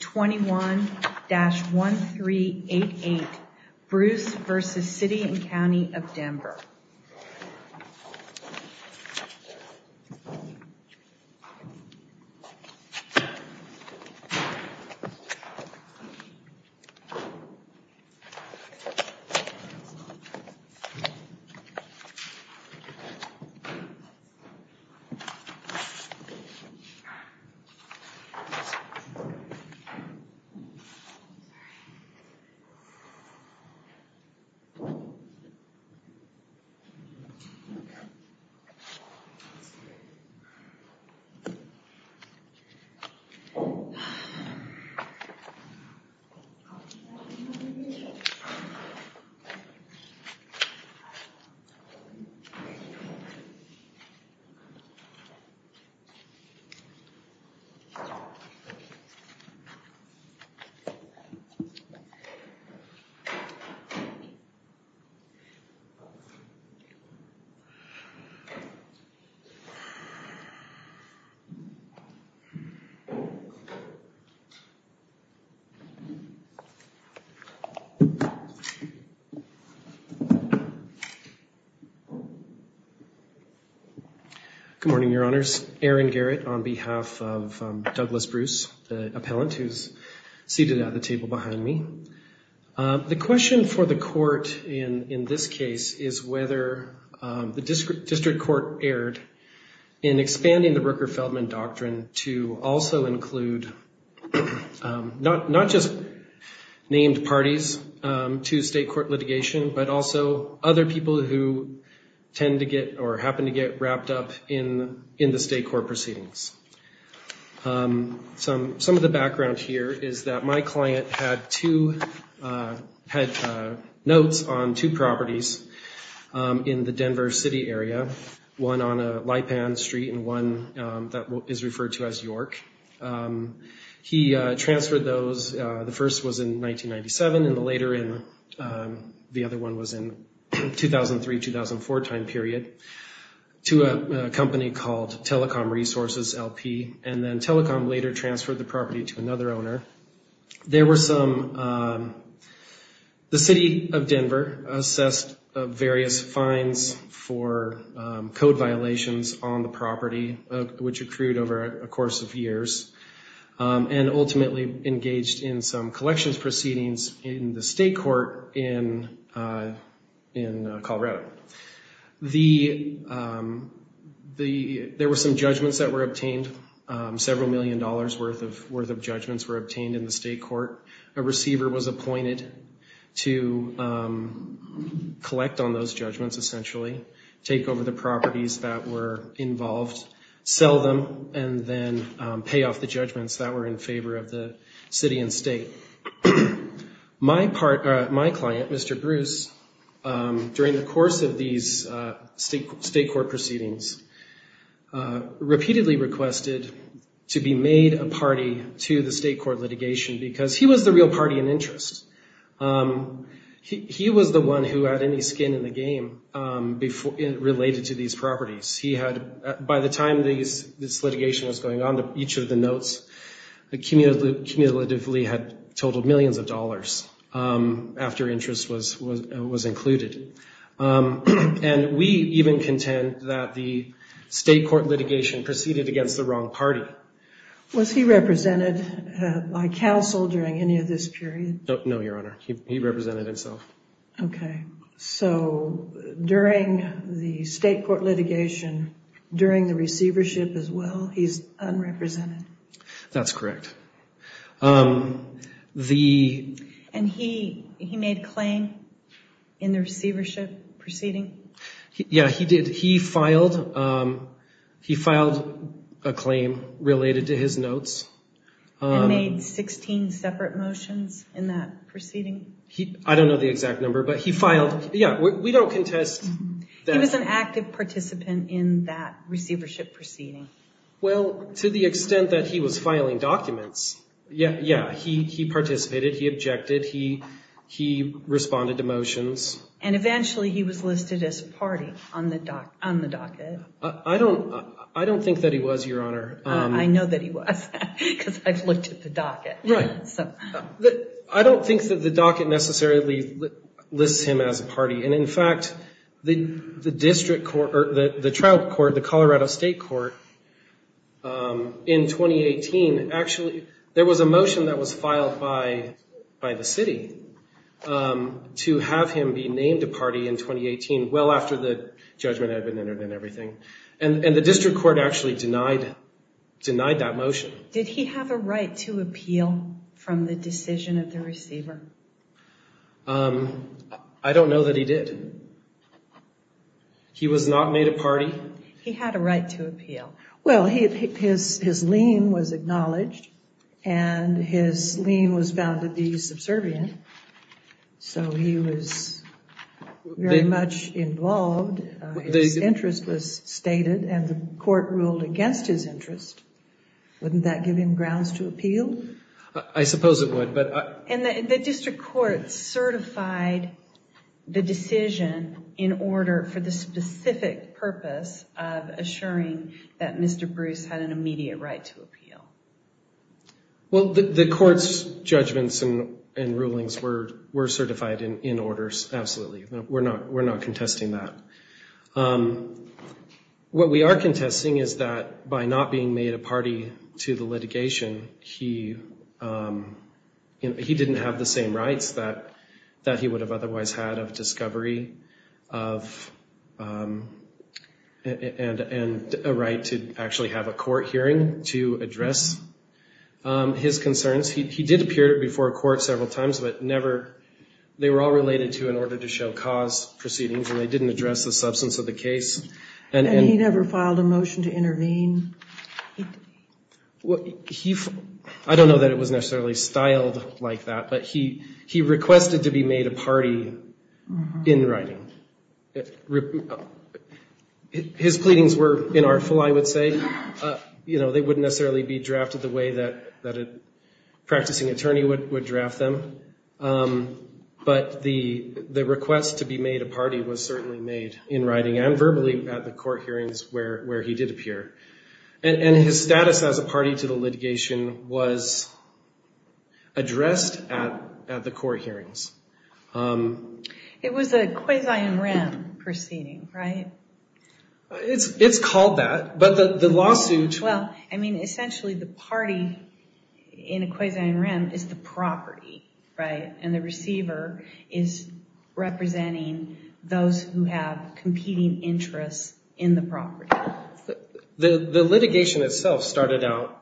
21-1388 Bruce versus City and County of Denver. Good morning, Your Honours. It's Aaron Garrett on behalf of Douglas Bruce, the appellant who's seated at the table behind me. The question for the court in this case is whether the district court erred in expanding the Rooker-Feldman Doctrine to also include not just named parties to state court litigation, but also other people who tend to get or happen to get wrapped up in the state court proceedings. Some of the background here is that my client had two notes on two properties in the Denver City area, one on Lipan Street and one that is referred to as York. He transferred those, the first was in 1997 and the later in, the other one was in 2003-2004 time period, to a company called Telecom Resources, LP, and then Telecom later transferred the property to another owner. There were some, the City of Denver assessed various fines for code violations on the property which accrued over a course of years and ultimately engaged in some collections proceedings in the state court in Colorado. There were some judgments that were obtained, several million dollars worth of judgments were obtained in the state court. A receiver was appointed to collect on those judgments essentially, take over the properties that were involved, sell them, and then pay off the judgments that were in favor of the city and state. My client, Mr. Bruce, during the course of these state court proceedings, repeatedly requested to be made a party to the state court litigation because he was the real party in interest. He was the one who had any skin in the game related to these properties. He had, by the time this litigation was going on, each of the notes cumulatively had totaled millions of dollars after interest was included. And we even contend that the state court litigation proceeded against the wrong party. Was he represented by counsel during any of this period? No, Your Honor. He represented himself. Okay. So during the state court litigation, during the receivership as well, he's unrepresented? That's correct. And he made a claim in the receivership proceeding? Yeah, he did. He filed a claim related to his notes. And made 16 separate motions in that proceeding? I don't know the exact number, but he filed... Yeah, we don't contest that. He was an active participant in that receivership proceeding? Well, to the extent that he was filing documents, yeah. He participated. He objected. He responded to motions. And eventually he was listed as a party on the docket. I don't think that he was, Your Honor. I know that he was. Because I've looked at the docket. Right. I don't think that the docket necessarily lists him as a party. And in fact, the district court, the trial court, the Colorado State Court, in 2018, actually, there was a motion that was filed by the city to have him be named a party in 2018, well after the judgment had been entered and everything. And the district court actually denied that motion. Did he have a right to appeal from the decision of the receiver? I don't know that he did. He was not made a party. He had a right to appeal. Well, his lien was acknowledged and his lien was found to be subservient. So he was very much involved. His interest was stated and the court ruled against his interest. Wouldn't that give him grounds to appeal? I suppose it would. And the district court certified the decision in order for the specific purpose of assuring that Mr. Bruce had an immediate right to appeal. Well, the court's judgments and rulings were certified in orders. Absolutely. We're not contesting that. What we are contesting is that by not being made a party to the litigation, he didn't have the same rights that he would have otherwise had of discovery and a right to actually have a court hearing to address his concerns. He did appear before a court several times, but they were all related to an order to show cause proceedings, and they didn't address the substance of the case. And he never filed a motion to intervene? Well, I don't know that it was necessarily styled like that, but he requested to be made a party in writing. His pleadings were inartful, I would say. You know, they wouldn't necessarily be drafted the way that a practicing attorney would draft them. But the request to be made a party was certainly made in writing and verbally at the court hearings where he did appear. And his status as a party to the litigation was addressed at the court hearings. It was a quasi-in-rem proceeding, right? It's called that, but the lawsuit... Well, I mean, essentially the party in a quasi-in-rem is the property, right? And the receiver is representing those who have competing interests in the property. The litigation itself started out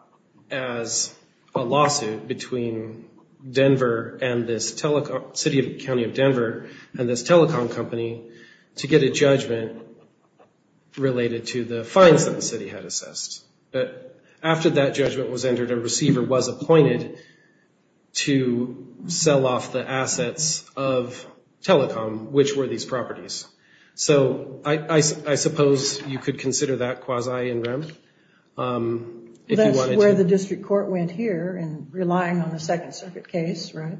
as a lawsuit between Denver and this telecom... City of... County of Denver and this telecom company to get a judgment related to the fines that the city had assessed. But after that judgment was entered, a receiver was appointed to sell off the assets of telecom, which were these properties. So I suppose you could consider that quasi-in-rem. That's where the district court went here in relying on the Second Circuit case, right?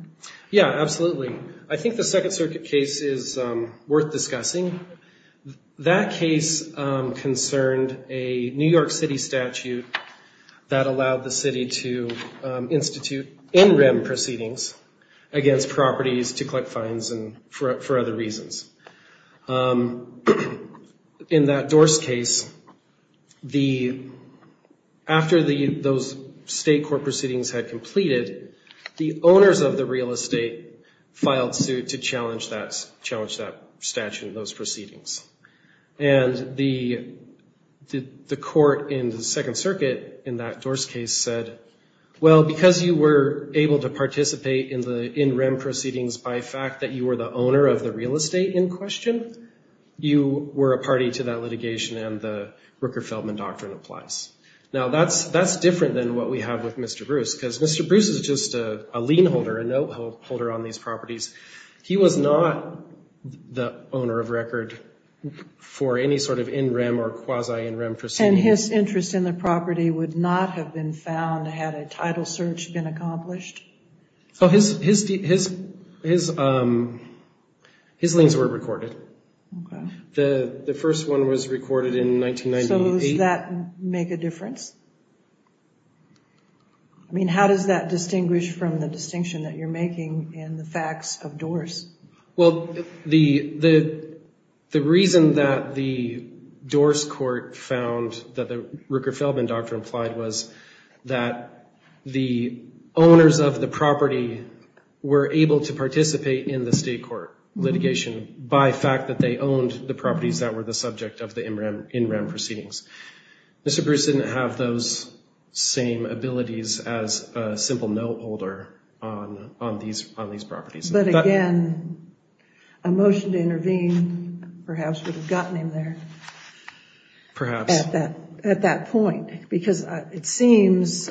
Yeah, absolutely. I think the Second Circuit case is worth discussing. That case concerned a New York City statute that allowed the city to institute in-rem proceedings against properties to collect fines and for other reasons. In that Dorse case, after those state court proceedings had completed, the owners of the real estate filed suit to challenge that statute, to challenge those proceedings. And the court in the Second Circuit in that Dorse case said, well, because you were able to participate in the in-rem proceedings by fact that you were the owner of the real estate in question, you were a party to that litigation and the Rooker-Feldman Doctrine applies. Now, that's different than what we have with Mr. Bruce, because Mr. Bruce is just a lien holder, a note holder on these properties. He was not the owner of record for any sort of in-rem or quasi-in-rem proceedings. And his interest in the property would not have been found had a title search been accomplished? So his liens were recorded. The first one was recorded in 1998. So does that make a difference? I mean, how does that distinguish from the distinction that you're making in the facts of Dorse? Well, the reason that the Dorse court found that the Rooker-Feldman Doctrine applied was that the owners of the property were able to participate in the state court litigation by fact that they owned the properties that were the subject of the in-rem proceedings. Mr. Bruce didn't have those same abilities as a simple note holder on these properties. But again, a motion to intervene perhaps would have gotten him there at that point. Because it seems,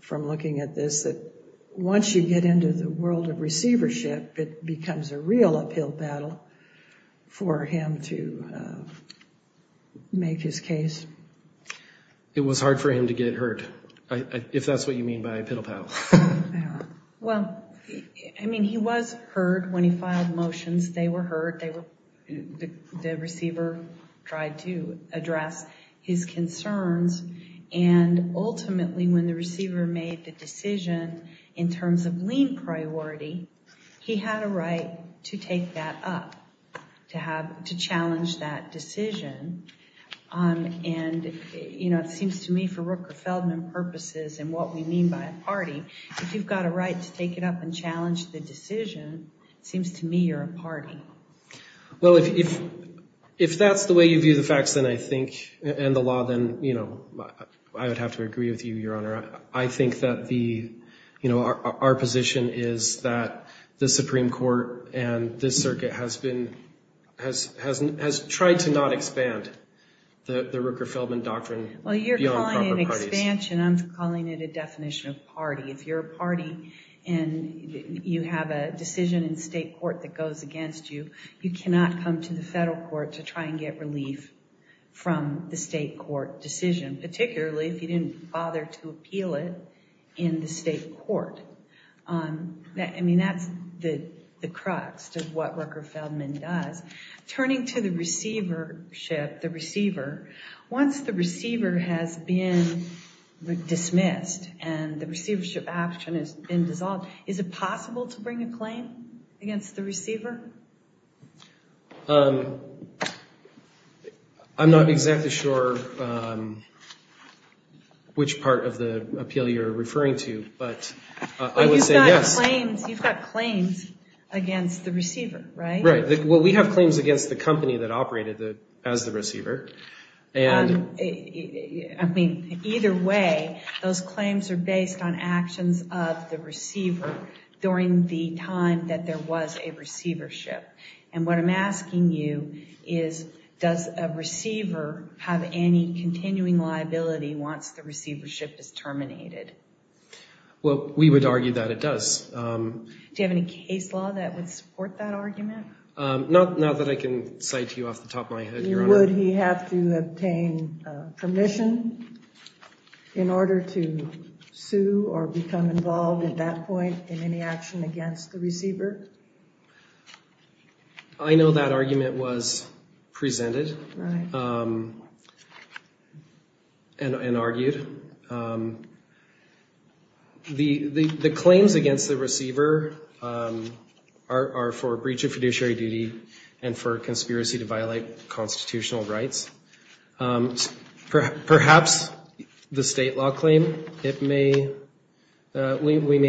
from looking at this, that once you get into the world of receivership, it becomes a real uphill battle for him to make his case. It was hard for him to get hurt, if that's what you mean by a piddle paddle. Well, I mean, he was hurt when he filed motions. They were hurt. The receiver tried to address his concerns. And ultimately, when the receiver made the decision in terms of lien priority, he had a right to take that up, to challenge that decision. And it seems to me, for Rooker-Feldman purposes and what we mean by a party, if you've got a right to take it up and challenge the decision, it seems to me you're a party. Well, if that's the way you view the facts and the law, then I would have to agree with you, Your Honor. I think that our position is that the Supreme Court and this circuit has tried to not expand the Rooker-Feldman doctrine beyond proper parties. Well, you're calling it an expansion. I'm calling it a definition of party. If you're a party and you have a decision in state court that goes against you, you cannot come to the federal court to try and get relief from the state court decision, particularly if you didn't bother to appeal it in the state court. I mean, that's the crux of what Rooker-Feldman does. Turning to the receivership, the receiver, once the receiver has been dismissed and the receivership action has been dissolved, is it possible to bring a claim against the receiver? I'm not exactly sure which part of the appeal you're referring to, but I would say yes. You've got claims against the receiver, right? Right. Well, we have claims against the company that operated as the receiver. And I mean, either way, those claims are based on actions of the receiver during the time that there was a receivership. And what I'm asking you is, does a receiver have any continuing liability once the receivership is terminated? Well, we would argue that it does. Do you have any case law that would support that argument? Not that I can cite to you off the top of my head, Your Honor. Would he have to obtain permission in order to sue or become involved at that point in any action against the receiver? I know that argument was presented and argued. The claims against the receiver are for breach of fiduciary duty and for conspiracy to violate constitutional rights. Perhaps the state law claim, we may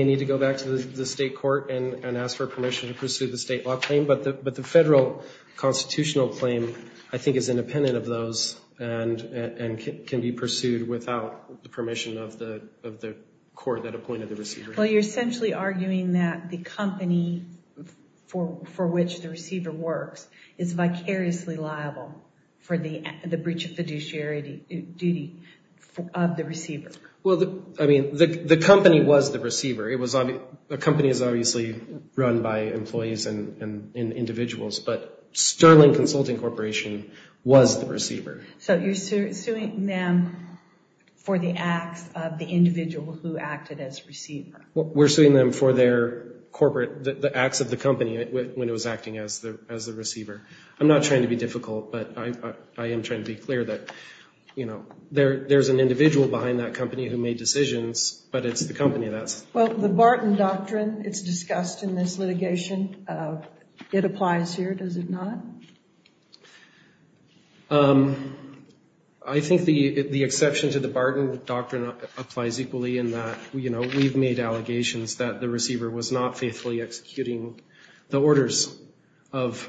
need to go back to the state court and ask for permission to pursue the state law claim. But the federal constitutional claim, I think, is independent of those and can be pursued without the permission of the court that appointed the receiver. Well, you're essentially arguing that the company for which the receiver works is vicariously liable for the breach of fiduciary duty of the receiver. Well, I mean, the company was the receiver. The company is obviously run by employees and individuals, but Sterling Consulting Corporation was the receiver. So you're suing them for the acts of the individual who acted as receiver? We're suing them for their corporate, the acts of the company when it was acting as the receiver. I'm not trying to be difficult, but I am trying to be clear that, you know, there's an individual behind that company who made decisions, but it's the company that's... Well, the Barton Doctrine, it's discussed in this litigation, it applies here, does it not? I think the exception to the Barton Doctrine applies equally in that, you know, we've made allegations that the receiver was not faithfully executing the orders of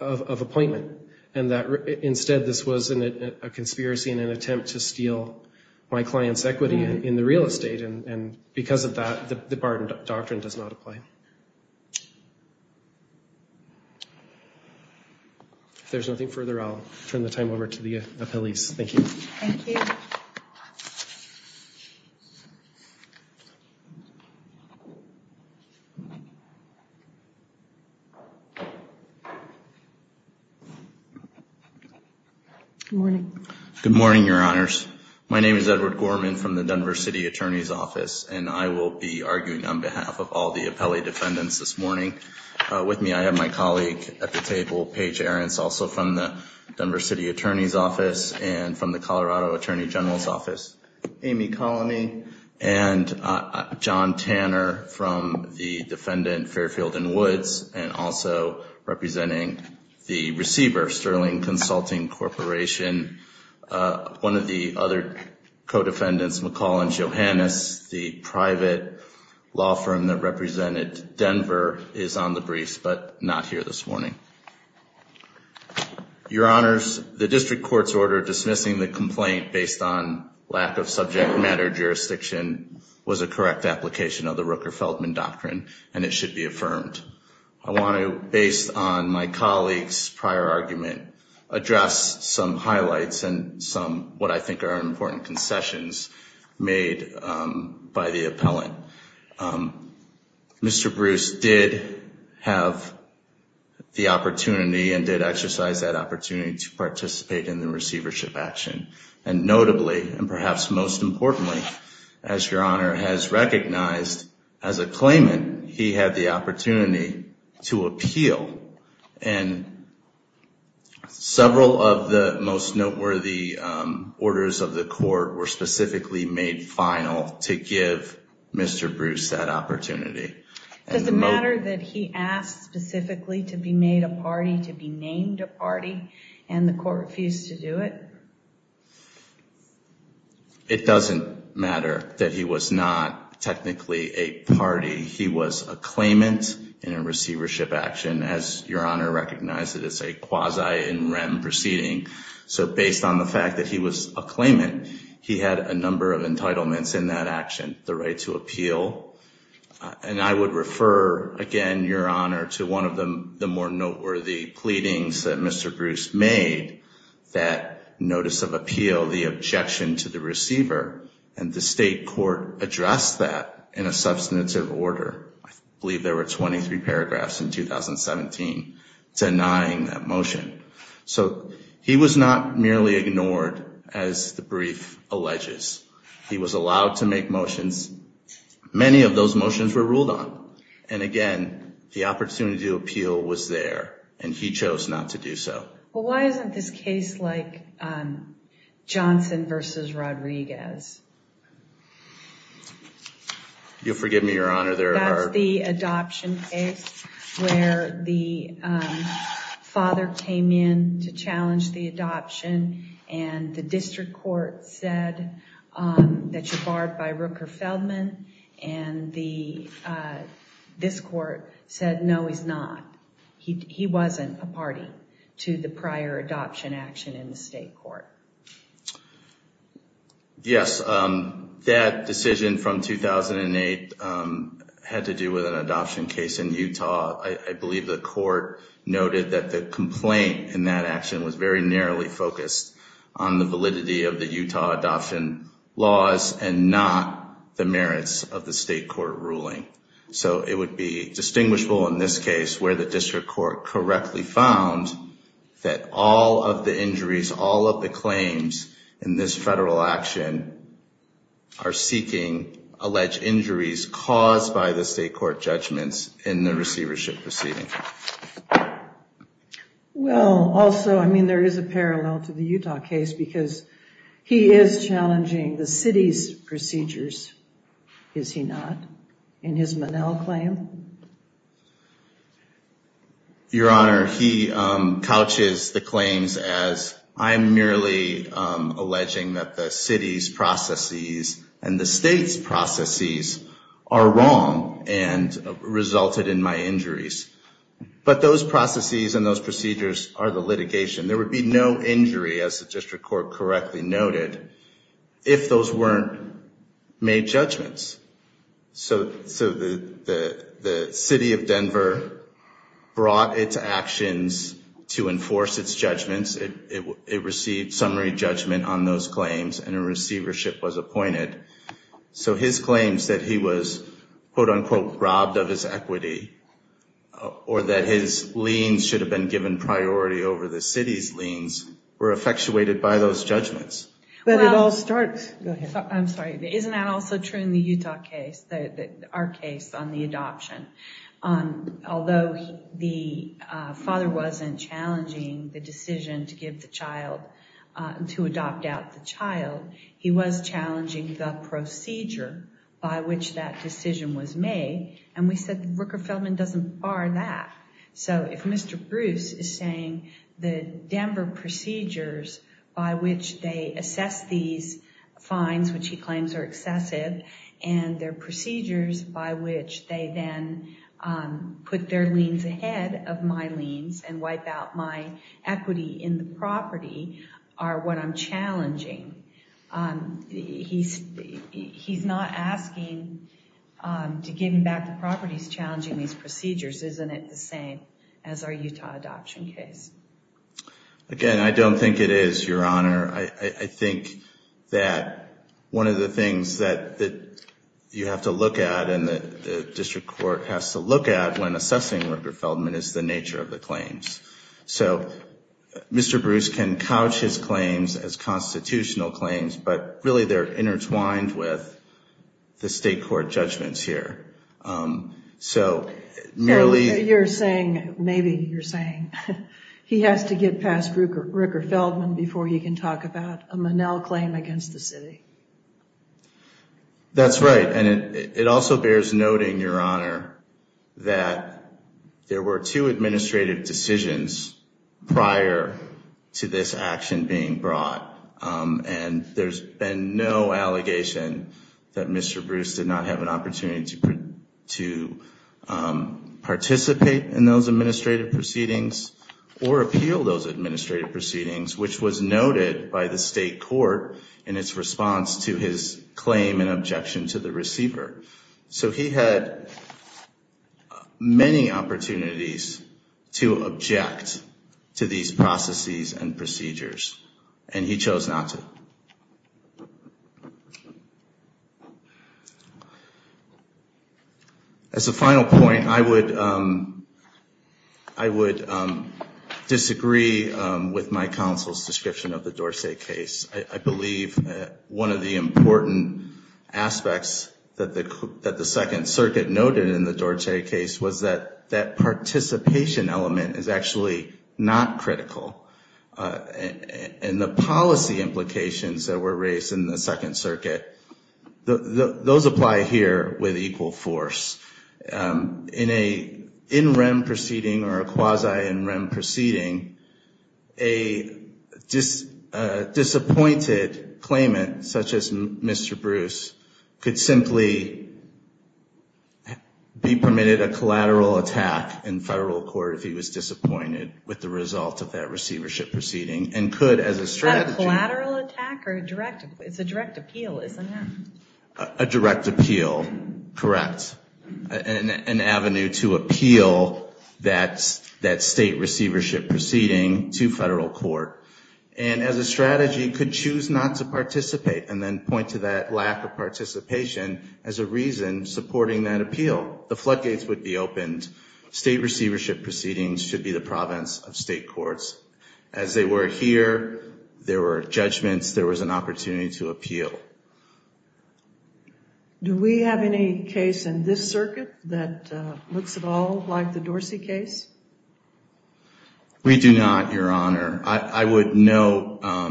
appointment. And that instead, this was a conspiracy in an attempt to steal my client's equity in the real estate. And because of that, the Barton Doctrine does not apply. If there's nothing further, I'll turn the time over to the appellees. Thank you. Good morning. Good morning, Your Honors. My name is Edward Gorman from the Denver City Attorney's Office, and I will be arguing on behalf of all the appellee defendants this morning. With me, I have my colleague at the table, Paige Ahrens, also from the Denver City Attorney's Office and from the Colorado Attorney General's Office. Amy Colony and John Tanner from the defendant Fairfield and Woods, and also representing the receiver, Sterling Consulting Corporation. One of the other co-defendants, McCollins Johannes, the private law firm that represented Denver, is on the briefs, but not here this morning. Your Honors, the district court's order dismissing the complaint based on lack of subject matter jurisdiction was a correct application of the Rooker-Feldman Doctrine, and it should be affirmed. I want to, based on my colleague's prior argument, address some highlights and some what I think are important concessions made by the appellant. Mr. Bruce did have the opportunity and did exercise that opportunity to participate in the receivership action. And notably, and perhaps most importantly, as Your Honor has recognized, as a claimant, he had the opportunity to appeal. And several of the most noteworthy orders of the court were specifically made final to give Mr. Bruce that opportunity. Does it matter that he asked specifically to be made a party, to be named a party, and the court refused to do it? It doesn't matter that he was not technically a party. He was a claimant in a receivership action, as Your Honor recognizes as a quasi-in rem proceeding. So based on the fact that he was a claimant, he had a number of entitlements in that action, the right to appeal. And I would refer, again, Your Honor, to one of the more noteworthy pleadings that Mr. Bruce made, that notice of appeal, the objection to the receiver, and the state court addressed that in a substantive order. I believe there were 23 paragraphs in 2017 denying that motion. So he was not merely ignored, as the brief alleges. He was allowed to make motions. Many of those motions were ruled on. And again, the opportunity to appeal was there, and he chose not to do so. Well, why isn't this case like Johnson versus Rodriguez? You'll forgive me, Your Honor, there are... ...where the father came in to challenge the adoption, and the district court said that you're barred by Rooker-Feldman, and this court said, no, he's not. He wasn't a party to the prior adoption action in the state court. Yes, that decision from 2008 had to do with an adoption case in Utah. I believe the court noted that the complaint in that action was very narrowly focused on the validity of the Utah adoption laws and not the merits of the state court ruling. So it would be distinguishable in this case where the district court correctly found that all of the injuries, all of the claims in this federal action are seeking alleged injuries caused by the state court judgments in the receivership proceeding. Well, also, I mean, there is a parallel to the Utah case because he is challenging the city's procedures, is he not? In his Monell claim? Your Honor, he couches the claims as, I'm merely alleging that the city's processes and the state's processes are wrong and resulted in my injuries. But those processes and those procedures are the litigation. There would be no injury, as the district court correctly noted, if those weren't made judgments. So the city of Denver brought its actions to enforce its judgments. It received summary judgment on those claims and a receivership was appointed. So his claims that he was, quote unquote, robbed of his equity or that his liens should have been given priority over the city's liens were effectuated by those judgments. But it all starts. I'm sorry, but isn't that also true in the Utah case, our case on the adoption? Although the father wasn't challenging the decision to give the child, to adopt out the child, he was challenging the procedure by which that decision was made. And we said the Rooker-Feldman doesn't bar that. So if Mr. Bruce is saying the Denver procedures by which they assess these fines, which he claims are excessive, and their procedures by which they then put their liens ahead of my liens and wipe out my equity in the property, are what I'm challenging. He's not asking to give him back the property. He's challenging these procedures. Isn't it the same as our Utah adoption case? Again, I don't think it is, Your Honor. I think that one of the things that you have to look at and the district court has to look at when assessing Rooker-Feldman is the nature of the claims. So Mr. Bruce can couch his claims as constitutional claims, but really they're intertwined with the state court judgments here. So merely... You're saying, maybe you're saying he has to get past Rooker-Feldman before he can talk about a Monell claim against the city. That's right. And it also bears noting, Your Honor, that there were two administrative decisions prior to this action being brought. And there's been no allegation that Mr. Bruce did not have an opportunity to participate in those administrative proceedings or appeal those administrative proceedings, which was noted by the state court in its response to his claim and objection to the receiver. So he had many opportunities to object to these processes and procedures. And he chose not to. As a final point, I would disagree with my counsel's description of the Dorsey case. I believe that one of the important aspects that the Second Circuit noted in the Dorsey case was that that participation element is actually not critical. And the policy implications that were raised in the Second Circuit, those apply here with equal force. In a in-rem proceeding or a quasi-in-rem proceeding, a disappointed claimant such as Mr. Bruce could simply be permitted a collateral attack in federal court if he was disappointed with the result of that response. A collateral attack or a direct? It's a direct appeal, isn't it? A direct appeal. Correct. An avenue to appeal that state receivership proceeding to federal court. And as a strategy, could choose not to participate and then point to that lack of participation as a reason supporting that appeal. The floodgates would be opened. State receivership proceedings should be the province of state courts. As they were here, there were judgments. There was an opportunity to appeal. Do we have any case in this circuit that looks at all like the Dorsey case? We do not, Your Honor. I would note that there are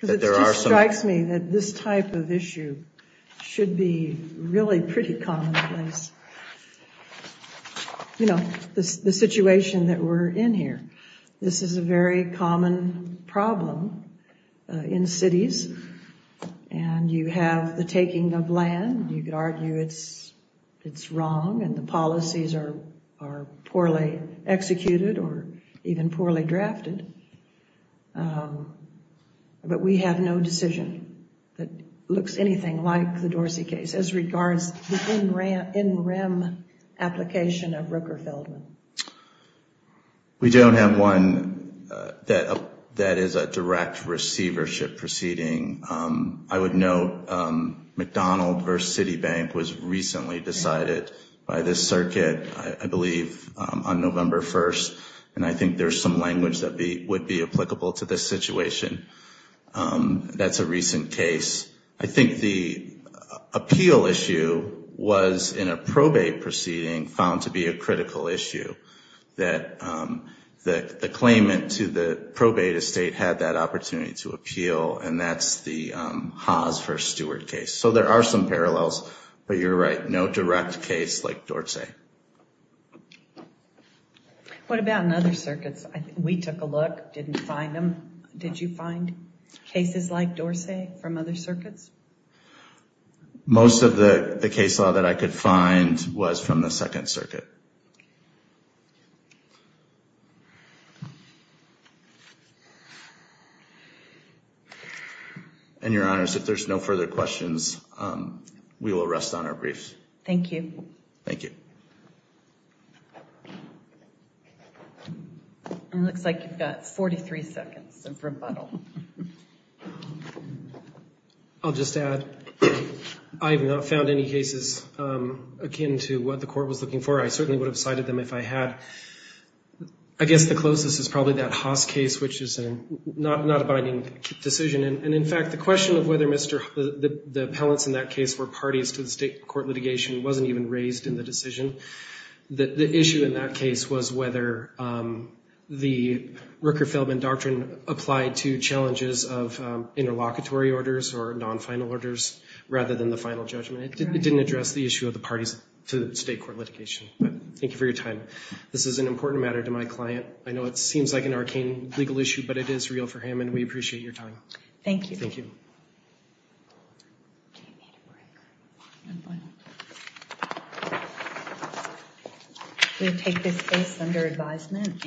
some... It just strikes me that this type of issue should be really pretty commonplace. You know, the situation that we're in here. This is a very common problem in cities and you have the taking of land. You could argue it's wrong and the policies are poorly executed or even poorly drafted. But we have no decision that looks anything like the Dorsey case as regards the in-rem application of Rooker-Feldman. We don't have one that is a direct receivership proceeding. I would note McDonald versus Citibank was recently decided by this circuit, I believe, on November 1st. And I think there's some language that would be applicable to this situation. That's a recent case. I think the appeal issue was in a probate proceeding found to be a critical issue that the claimant to the probate estate had that opportunity to appeal. And that's the Haas versus Stewart case. So there are some parallels, but you're right, no direct case like Dorsey. What about in other circuits? We took a look, didn't find them. Did you find cases like Dorsey from other circuits? Most of the case law that I could find was from the Second Circuit. And Your Honors, if there's no further questions, we will rest on our briefs. Thank you. Thank you. It looks like you've got 43 seconds of rebuttal. I'll just add, I have not found any cases akin to what the court was looking for. I certainly would have cited them if I had. I guess the closest is probably that Haas case, which is not a binding decision. And in fact, the question of whether the appellants in that case were parties to the state court litigation wasn't even raised in the decision. The issue in that case was whether the Rooker-Feldman doctrine applied to challenges of interlocutory orders or non-final orders rather than the final judgment. It didn't address the issue of the parties to the state court litigation. But thank you for your time. This is an important matter to my client. I know it seems like an arcane legal issue, but it is real for him. And we appreciate your time. Thank you. We take this case under advisement.